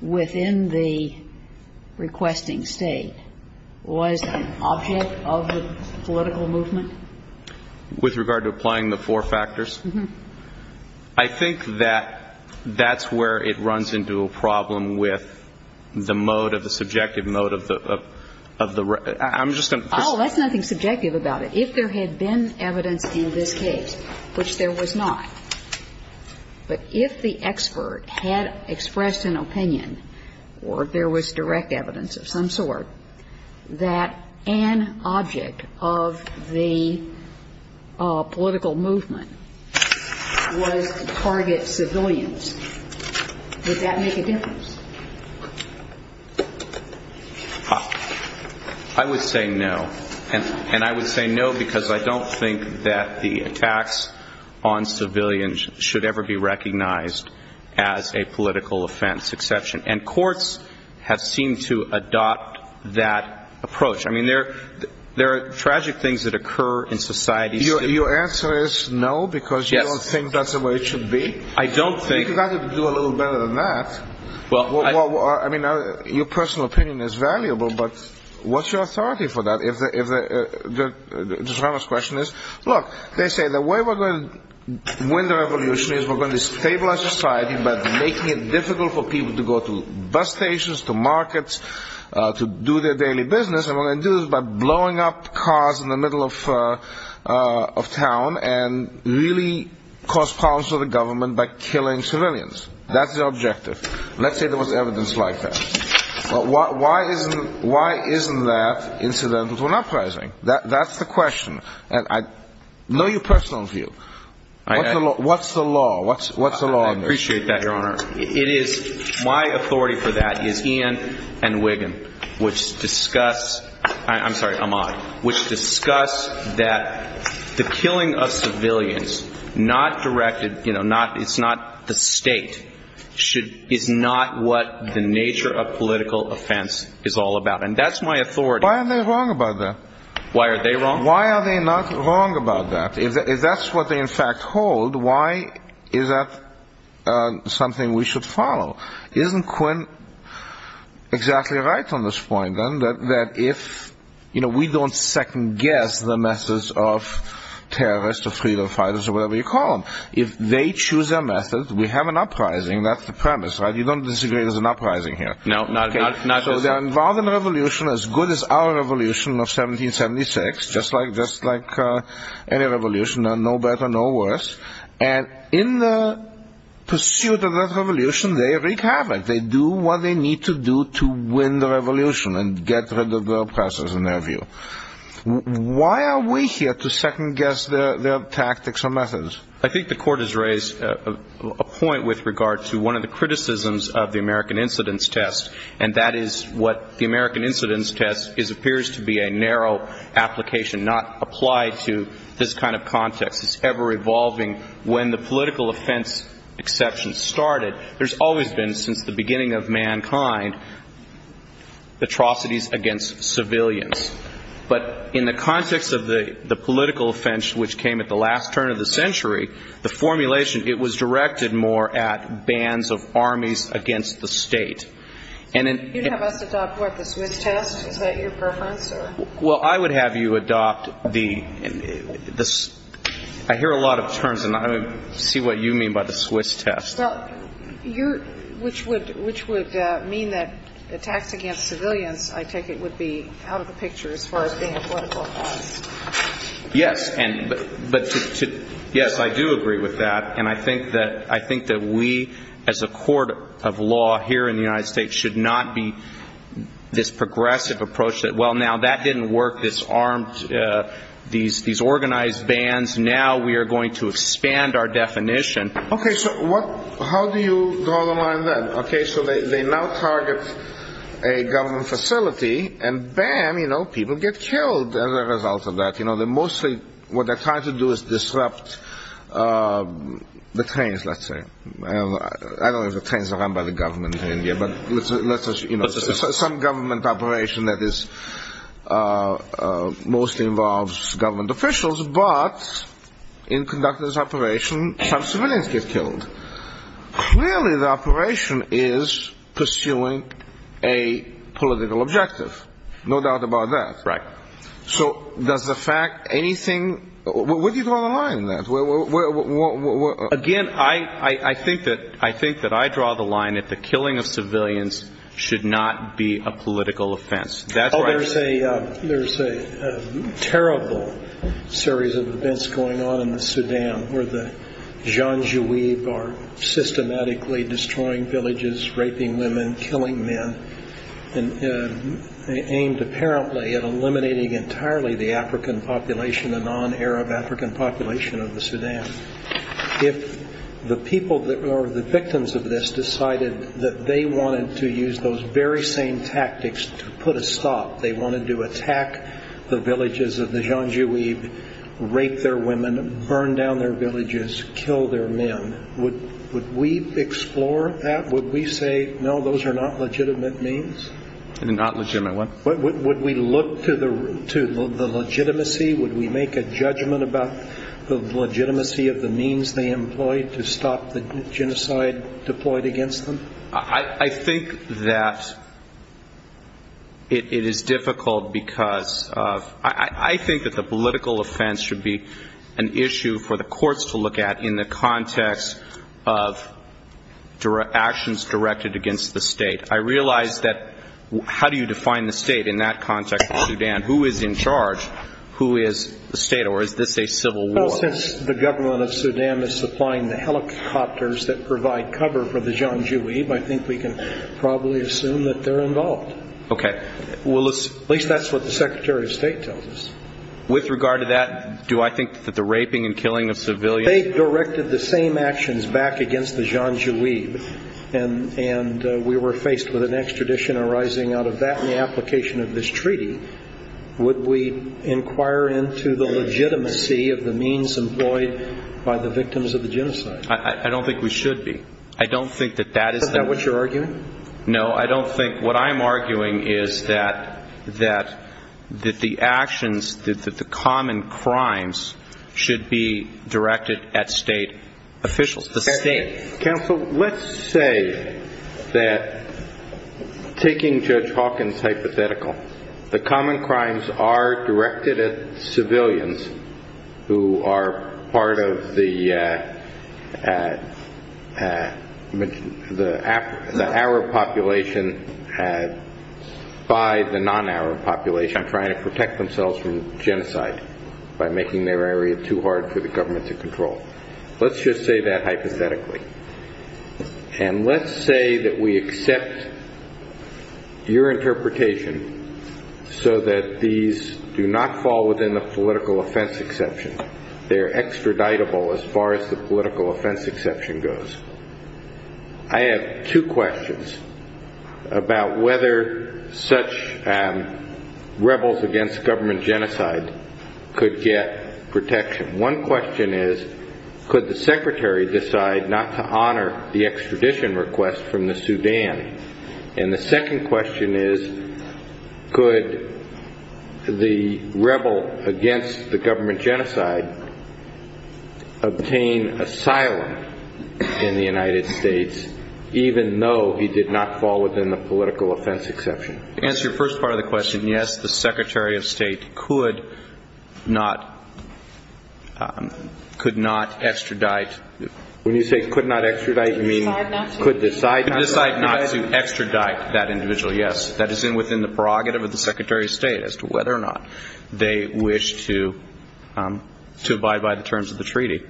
within the requesting State was an object of the political movement? With regard to applying the four factors? Uh-huh. I think that that's where it runs into a problem with the mode of the subjective mode of the realm. I'm just going to put Oh, that's nothing subjective about it. If there had been evidence in this case, which there was not, but if the expert had expressed an opinion or if there was direct evidence of some sort that an object of the political movement was to target civilians, would that make a difference? I would say no. And I would say no because I don't think that the attacks on civilians should ever be recognized as a political offense exception. And courts have seemed to adopt that approach. I mean, there are tragic things that occur in society. Your answer is no because you don't think that's the way it should be? Yes. I don't think You've got to do a little better than that. Well, I I mean, your personal opinion is valuable, but what's your authority for that? If the question is, look, they say the way we're going to win the revolution is we're going to stabilize society by making it difficult for people to go to bus stations, to markets, to do their daily business. And what they do is by blowing up cars in the middle of town and really cause problems for the government by killing civilians. That's the objective. Let's say there was evidence like that. Why isn't that incidental to an uprising? That's the question. And I know your personal view. What's the law? What's the law on this? I appreciate that, Your Honor. It is my authority for that is Ian and Wiggin, which discuss. I'm sorry, Ahmad, which discuss that the killing of civilians not directed, you know, not it's not the state should is not what the nature of political offense is all about. And that's my authority. Why are they wrong about that? Why are they wrong? Why are they not wrong about that? If that's what they in fact hold. Why is that something we should follow? Isn't Quinn exactly right on this point, then, that if we don't second guess the methods of terrorists or freedom fighters or whatever you call them. If they choose a method, we have an uprising. That's the premise, right? You don't disagree. There's an uprising here. So they're involved in a revolution as good as our revolution of 1776, just like any revolution, no better, no worse. And in the pursuit of that revolution, they wreak havoc. They do what they need to do to win the revolution and get rid of the oppressors in their view. Why are we here to second guess their tactics or methods? I think the Court has raised a point with regard to one of the criticisms of the American incidence test, and that is what the American incidence test appears to be a narrow application, not applied to this kind of context. It's ever-evolving. When the political offense exception started, there's always been, since the beginning of mankind, atrocities against civilians. But in the context of the political offense, which came at the last turn of the century, the formulation, it was directed more at bans of armies against the state. You'd have us adopt, what, the Swiss test? Is that your preference? Well, I would have you adopt the ‑‑ I hear a lot of terms, and I see what you mean by the Swiss test. Which would mean that attacks against civilians, I take it, would be out of the picture as far as being a political offense. Yes, I do agree with that. And I think that we, as a court of law here in the United States, should not be this progressive approach that, well, now that didn't work, these organized bans, now we are going to expand our definition. Okay, so how do you draw the line then? Okay, so they now target a government facility, and bam, you know, people get killed as a result of that. You know, they're mostly, what they're trying to do is disrupt the trains, let's say. I don't know if the trains are run by the government in India, but let's assume some government operation that mostly involves government officials, but in conductor's operation, some civilians get killed. Clearly the operation is pursuing a political objective. No doubt about that. Right. So does the fact, anything ‑‑ where do you draw the line in that? Again, I think that I draw the line that the killing of civilians should not be a political offense. Oh, there's a terrible series of events going on in the Sudan where the Janjawe are systematically destroying villages, raping women, killing men, aimed apparently at eliminating entirely the African population, the non‑Arab African population of the Sudan. If the people or the victims of this decided that they wanted to use those very same tactics to put a stop, they wanted to attack the villages of the Janjawe, rape their women, burn down their villages, kill their men, would we explore that? Would we say, no, those are not legitimate means? Not legitimate what? Would we look to the legitimacy? Would we make a judgment about the legitimacy of the means they employed to stop the genocide deployed against them? I think that it is difficult because of ‑‑ I think that the political offense should be an issue for the courts to look at in the context of actions directed against the state. I realize that how do you define the state in that context of Sudan? Who is in charge? Who is the state or is this a civil war? Well, since the government of Sudan is supplying the helicopters that provide cover for the Janjawe, I think we can probably assume that they're involved. Okay. At least that's what the Secretary of State tells us. With regard to that, do I think that the raping and killing of civilians ‑‑ They directed the same actions back against the Janjawe, and we were faced with an extradition arising out of that and the application of this treaty. Would we inquire into the legitimacy of the means employed by the victims of the genocide? I don't think we should be. I don't think that that is the ‑‑ Is that what you're arguing? No, I don't think ‑‑ what I'm arguing is that the actions, that the common crimes should be directed at state officials, the state. Counsel, let's say that, taking Judge Hawkins' hypothetical, the common crimes are directed at civilians who are part of the Arab population by the non-Arab population trying to protect themselves from genocide by making their area too hard for the government to control. Let's just say that hypothetically. And let's say that we accept your interpretation so that these do not fall within the political offense exception. They're extraditable as far as the political offense exception goes. I have two questions about whether such rebels against government genocide could get protection. One question is, could the Secretary decide not to honor the extradition request from the Sudan? And the second question is, could the rebel against the government genocide obtain asylum in the United States, even though he did not fall within the political offense exception? To answer your first part of the question, yes, the Secretary of State could not extradite. When you say could not extradite, you mean could decide not to? Could decide not to extradite that individual, yes. That is within the prerogative of the Secretary of State as to whether or not they wish to abide by the terms of the treaty.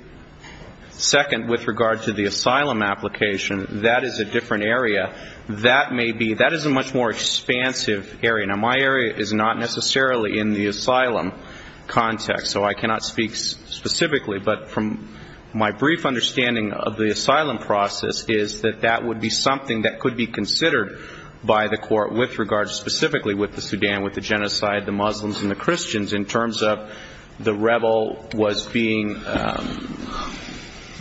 Second, with regard to the asylum application, that is a different area. That is a much more expansive area. Now, my area is not necessarily in the asylum context, so I cannot speak specifically. But from my brief understanding of the asylum process is that that would be something that could be considered by the court with regard specifically with the Sudan, with the genocide, the Muslims, and the Christians, in terms of the rebel was being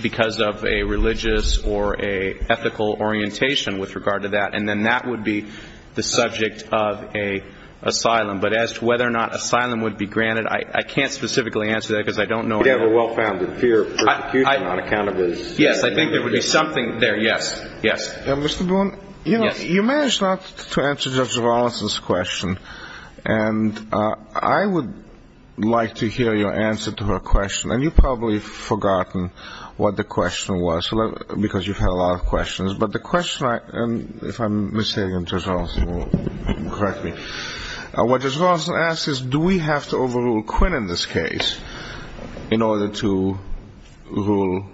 because of a religious or an ethical orientation with regard to that. And then that would be the subject of an asylum. But as to whether or not asylum would be granted, I can't specifically answer that because I don't know. It would have a well-founded fear of persecution on account of his. Yes, I think there would be something there. Yes, yes. Mr. Boone, you know, you managed not to answer Judge Rawlinson's question. And I would like to hear your answer to her question. And you've probably forgotten what the question was because you've had a lot of questions. But the question, and if I'm mishearing Judge Rawlinson, correct me, what Judge Rawlinson asks is do we have to overrule Quinn in this case in order to rule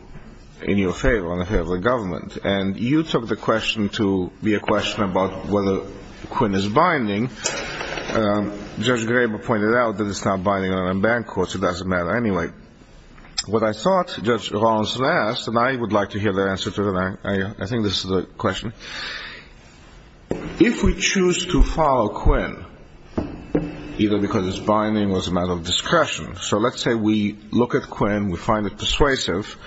in your favor on behalf of the government? And you took the question to be a question about whether Quinn is binding. Judge Graber pointed out that it's not binding on unbanned courts. It doesn't matter anyway. What I thought Judge Rawlinson asked, and I would like to hear the answer to that. I think this is the question. If we choose to follow Quinn, either because it's binding or it's a matter of discretion, so let's say we look at Quinn, we find it persuasive,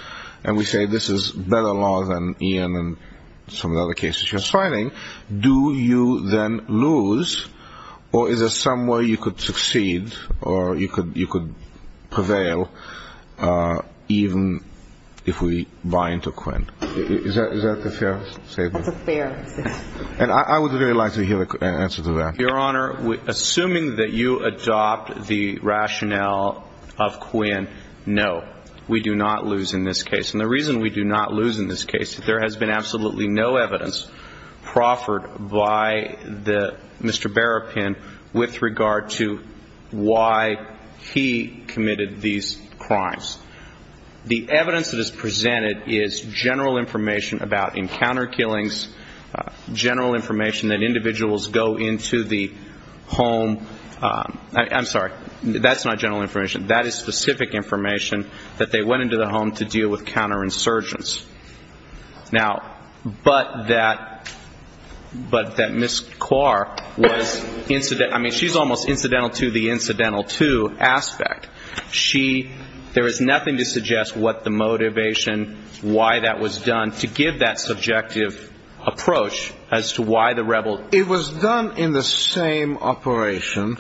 and we say this is better law than Ian and some of the other cases you're citing, do you then lose or is there some way you could succeed or you could prevail even if we bind to Quinn? Is that the fair statement? That's a fair statement. And I would really like to hear an answer to that. Your Honor, assuming that you adopt the rationale of Quinn, no. We do not lose in this case. And the reason we do not lose in this case is there has been absolutely no evidence proffered by Mr. Berrapin with regard to why he committed these crimes. The evidence that is presented is general information about encounter killings, general information that individuals go into the home. I'm sorry. That's not general information. That is specific information that they went into the home to deal with counterinsurgents. Now, but that Ms. Kaur was incidental. I mean, she's almost incidental to the incidental to aspect. She, there is nothing to suggest what the motivation, why that was done to give that subjective approach as to why the rebel. It was done in the same operation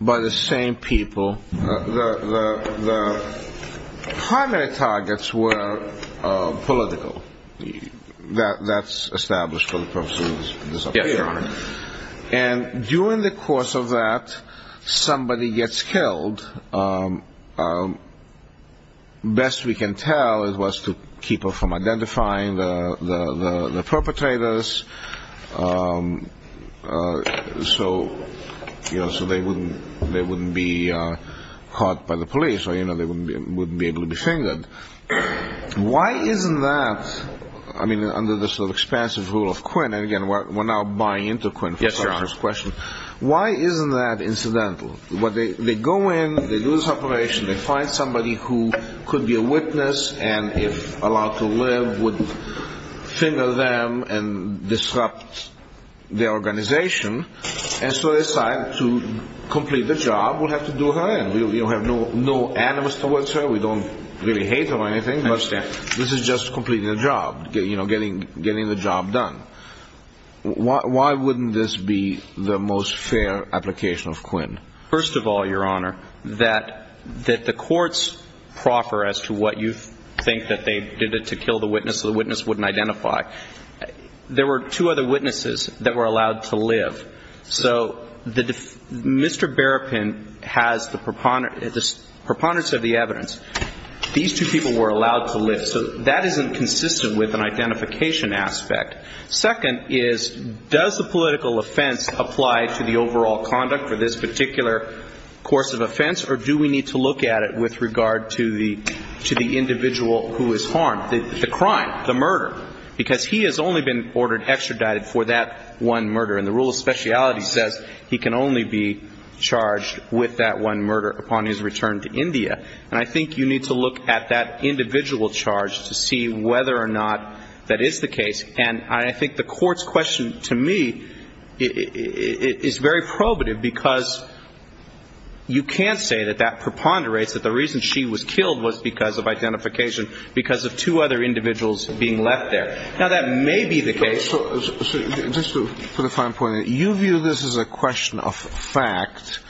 by the same people. The primary targets were political. That's established for the purposes of this affair. Yes, Your Honor. And during the course of that, somebody gets killed. Best we can tell it was to keep her from identifying the perpetrators. So, you know, so they wouldn't be caught by the police or, you know, they wouldn't be able to be fingered. Why isn't that, I mean, under this expansive rule of Quinn, and again, we're now buying into Quinn. Yes, Your Honor. Why isn't that incidental? They go in. They do this operation. They find somebody who could be a witness and if allowed to live would finger them and disrupt their organization. And so they decide to complete the job. We'll have to do her in. We don't have no animus towards her. We don't really hate her or anything. I understand. This is just completing the job, you know, getting the job done. Why wouldn't this be the most fair application of Quinn? First of all, Your Honor, that the courts proffer as to what you think that they did it to kill the witness so the witness wouldn't identify. There were two other witnesses that were allowed to live. So Mr. Berrapin has the preponderance of the evidence. These two people were allowed to live. So that isn't consistent with an identification aspect. Second is does the political offense apply to the overall conduct for this particular course of offense or do we need to look at it with regard to the individual who is harmed? The crime, the murder, because he has only been ordered extradited for that one murder. And the rule of speciality says he can only be charged with that one murder upon his return to India. And I think you need to look at that individual charge to see whether or not that is the case. And I think the court's question to me is very probative because you can't say that that preponderates that the reason she was killed was because of identification, because of two other individuals being left there. Now, that may be the case. For the fine point, you view this as a question of fact,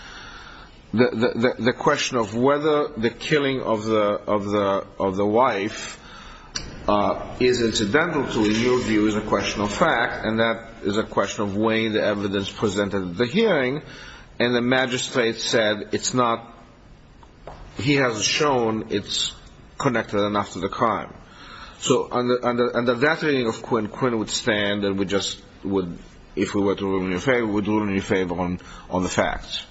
the question of whether the killing of the wife is incidental to you view is a question of fact, and that is a question of way the evidence presented at the hearing, and the magistrate said it's not, he hasn't shown it's connected enough to the crime. So under that reading of Quinn, Quinn would stand and would just, if we were to do him any favor, would do him any favor on the facts.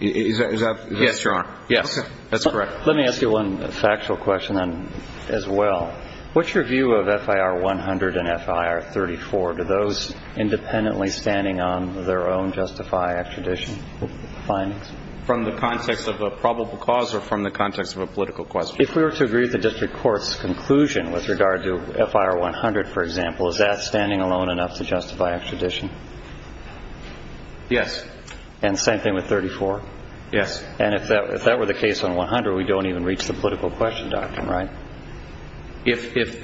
Is that correct? Yes, Your Honor. Yes, that's correct. Let me ask you one factual question as well. What's your view of FIR 100 and FIR 34? Do those independently standing on their own justify extradition? From the context of a probable cause or from the context of a political question? If we were to agree with the district court's conclusion with regard to FIR 100, for example, is that standing alone enough to justify extradition? Yes. And the same thing with 34? Yes. And if that were the case on 100, we don't even reach the political question doctrine, right? Yes, if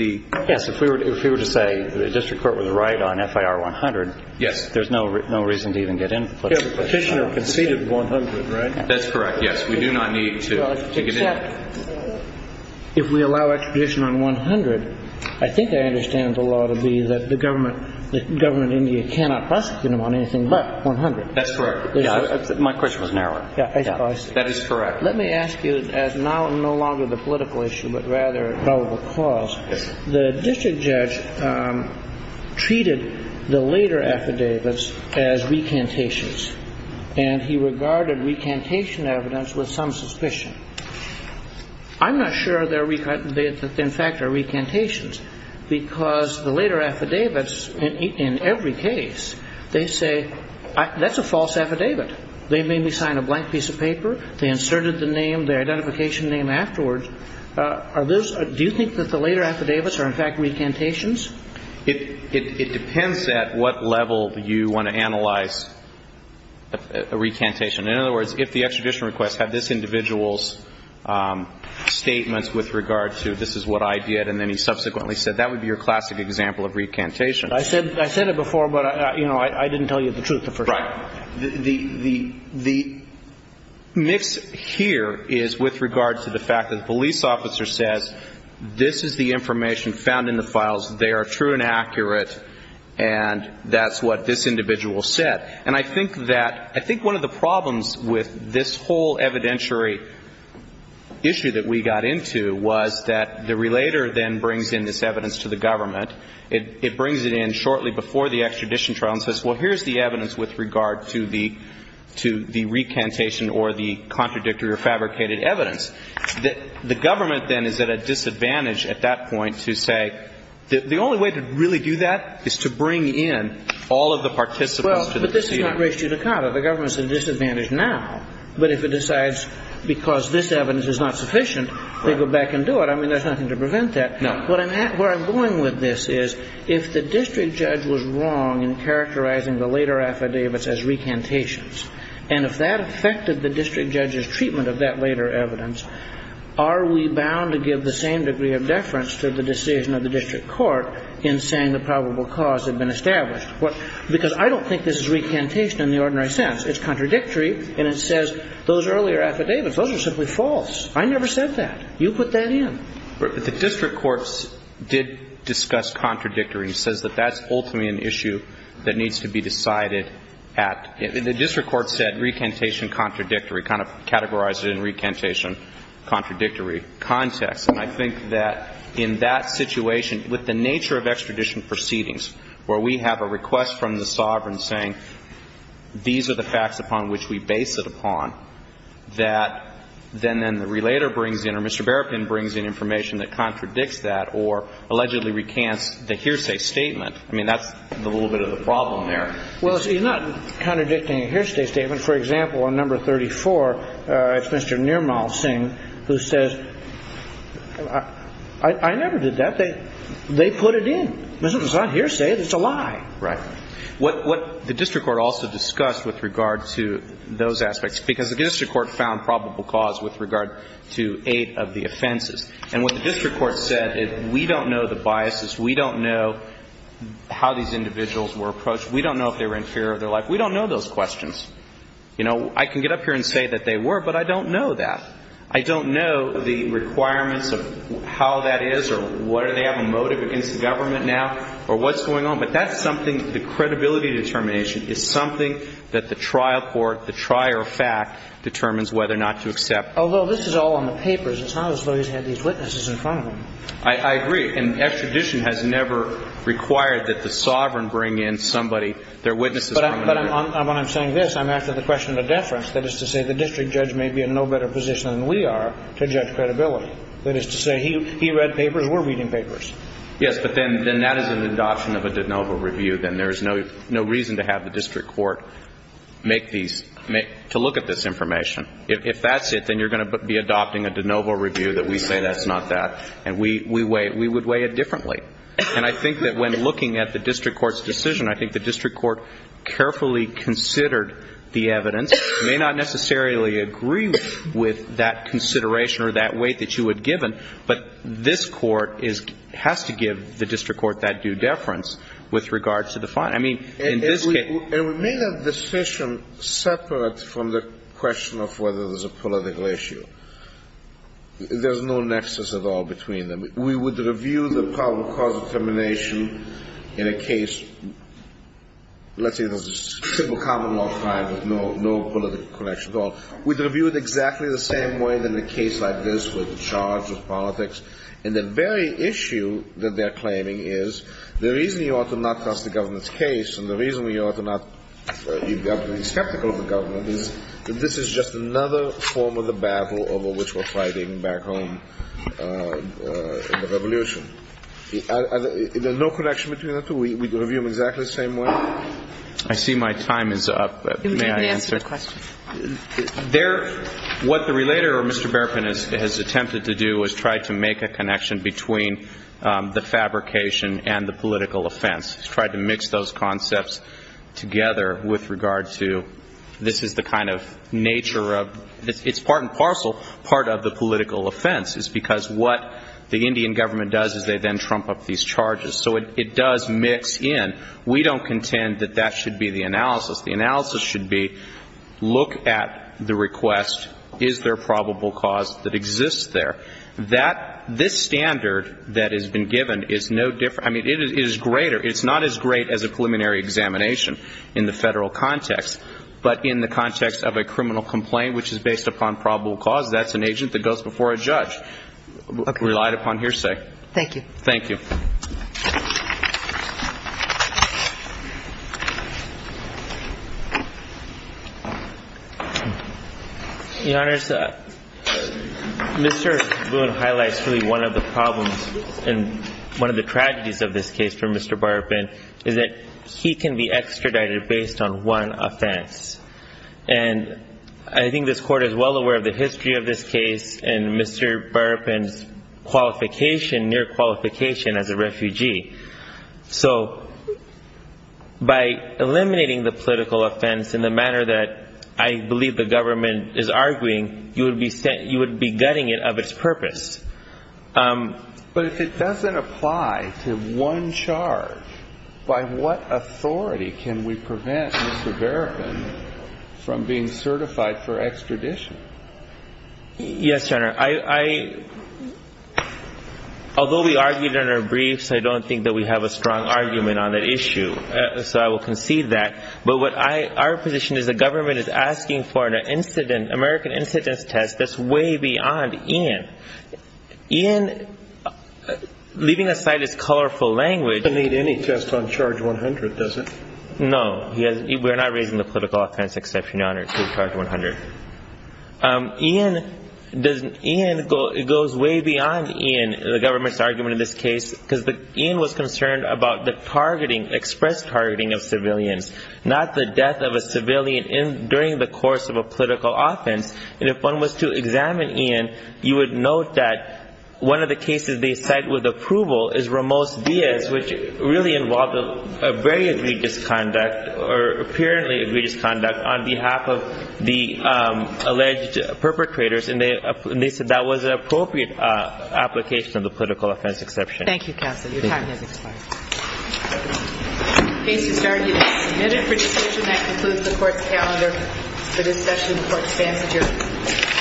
we were to say the district court was right on FIR 100, there's no reason to even get in. The petitioner conceded 100, right? That's correct, yes. We do not need to get in. Except if we allow extradition on 100, I think I understand the law to be that the government in India cannot question him on anything but 100. That's correct. My question was narrower. That is correct. Let me ask you, as now no longer the political issue but rather a probable cause, the district judge treated the later affidavits as recantations, and he regarded recantation evidence with some suspicion. I'm not sure they in fact are recantations because the later affidavits in every case, they say, that's a false affidavit. They made me sign a blank piece of paper. They inserted the name, the identification name afterwards. Do you think that the later affidavits are in fact recantations? It depends at what level you want to analyze a recantation. In other words, if the extradition request had this individual's statements with regard to this is what I did and then he subsequently said that would be your classic example of recantation. I said it before, but I didn't tell you the truth at first. Right. The mix here is with regard to the fact that the police officer says this is the information found in the files, they are true and accurate, and that's what this individual said. And I think that one of the problems with this whole evidentiary issue that we got into was that the relator then brings in this evidence to the government. It brings it in shortly before the extradition trial and says, well, here's the evidence with regard to the recantation or the contradictory or fabricated evidence. The government then is at a disadvantage at that point to say, the only way to really do that is to bring in all of the participants to the proceeding. Well, but this is not ratio to contra. The government is at a disadvantage now. But if it decides because this evidence is not sufficient, they go back and do it. I mean, there's nothing to prevent that. No. But where I'm going with this is if the district judge was wrong in characterizing the later affidavits as recantations, and if that affected the district judge's treatment of that later evidence, are we bound to give the same degree of deference to the decision of the district court in saying the probable cause had been established? Because I don't think this is recantation in the ordinary sense. It's contradictory, and it says those earlier affidavits, those are simply false. I never said that. You put that in. The district courts did discuss contradictory. It says that that's ultimately an issue that needs to be decided at the district court said recantation contradictory, kind of categorized it in recantation contradictory context. And I think that in that situation, with the nature of extradition proceedings, where we have a request from the sovereign saying these are the facts upon which we base it upon, that then then the relator brings in or Mr. Berrapin brings in information that contradicts that or allegedly recants the hearsay statement. I mean, that's a little bit of the problem there. Well, you're not contradicting a hearsay statement. For example, on number 34, it's Mr. Nirmal Singh who says I never did that. They put it in. It's not hearsay. It's a lie. Right. What the district court also discussed with regard to those aspects, because the district court found probable cause with regard to eight of the offenses. And what the district court said is we don't know the biases. We don't know how these individuals were approached. We don't know if they were in fear of their life. We don't know those questions. You know, I can get up here and say that they were, but I don't know that. I don't know the requirements of how that is or whether they have a motive against the government now or what's going on. But that's something the credibility determination is something that the trial court, the trier of fact, determines whether or not to accept. Although this is all on the papers, it's not as though he's had these witnesses in front of him. I agree. And extradition has never required that the sovereign bring in somebody, their witnesses. But when I'm saying this, I'm asking the question of a deference. That is to say the district judge may be in no better position than we are to judge credibility. That is to say he read papers. We're reading papers. Yes, but then that is an adoption of a de novo review. Then there's no reason to have the district court make these, to look at this information. If that's it, then you're going to be adopting a de novo review that we say that's not that. And we would weigh it differently. And I think that when looking at the district court's decision, I think the district court carefully considered the evidence. It may not necessarily agree with that consideration or that weight that you had given. But this court has to give the district court that due deference with regard to the fine. I mean, in this case. And we made a decision separate from the question of whether there's a political issue. There's no nexus at all between them. We would review the problem of cause determination in a case. Let's say there's a civil common law crime with no political connection at all. We'd review it exactly the same way in a case like this with the charge of politics. And the very issue that they're claiming is the reason you ought to not trust the government's case and the reason you ought to not be skeptical of the government is that this is just another form of the battle over which we're fighting back home in the revolution. There's no connection between the two? We'd review them exactly the same way? I see my time is up. May I answer? You may answer the question. What the relator, Mr. Berpin, has attempted to do is try to make a connection between the fabrication and the political offense. He's tried to mix those concepts together with regard to this is the kind of nature of this. It's part and parcel part of the political offense. It's because what the Indian government does is they then trump up these charges. So it does mix in. We don't contend that that should be the analysis. The analysis should be look at the request. Is there probable cause that exists there? This standard that has been given is no different. I mean, it is greater. It's not as great as a preliminary examination in the federal context, but in the context of a criminal complaint which is based upon probable cause, that's an agent that goes before a judge relied upon hearsay. Thank you. Thank you. Your Honors, Mr. Boone highlights really one of the problems and one of the tragedies of this case for Mr. Berpin is that he can be extradited based on one offense. And I think this Court is well aware of the history of this case and Mr. Berpin's qualification, near qualification as a refugee. So by eliminating the political offense in the manner that I believe the government is arguing, you would be gutting it of its purpose. But if it doesn't apply to one charge, by what authority can we prevent Mr. Berpin from being certified for extradition? Yes, Your Honor. Although we argued in our briefs, I don't think that we have a strong argument on that issue. So I will concede that. But our position is the government is asking for an American incidence test that's way beyond Ian. Ian, leaving aside his colorful language. It doesn't need any test on charge 100, does it? No. We're not raising the political offense exception, Your Honor, to charge 100. Ian, it goes way beyond Ian, the government's argument in this case, because Ian was concerned about the targeting, express targeting of civilians, not the death of a civilian during the course of a political offense. And if one was to examine Ian, you would note that one of the cases they cite with approval is Ramos-Diaz, which really involved a very egregious conduct, or apparently egregious conduct, on behalf of the alleged perpetrators. And they said that was an appropriate application of the political offense exception. Thank you, counsel. Your time has expired. The case is argued and submitted for decision. And that concludes the court's calendar for discussion. The court stands adjourned.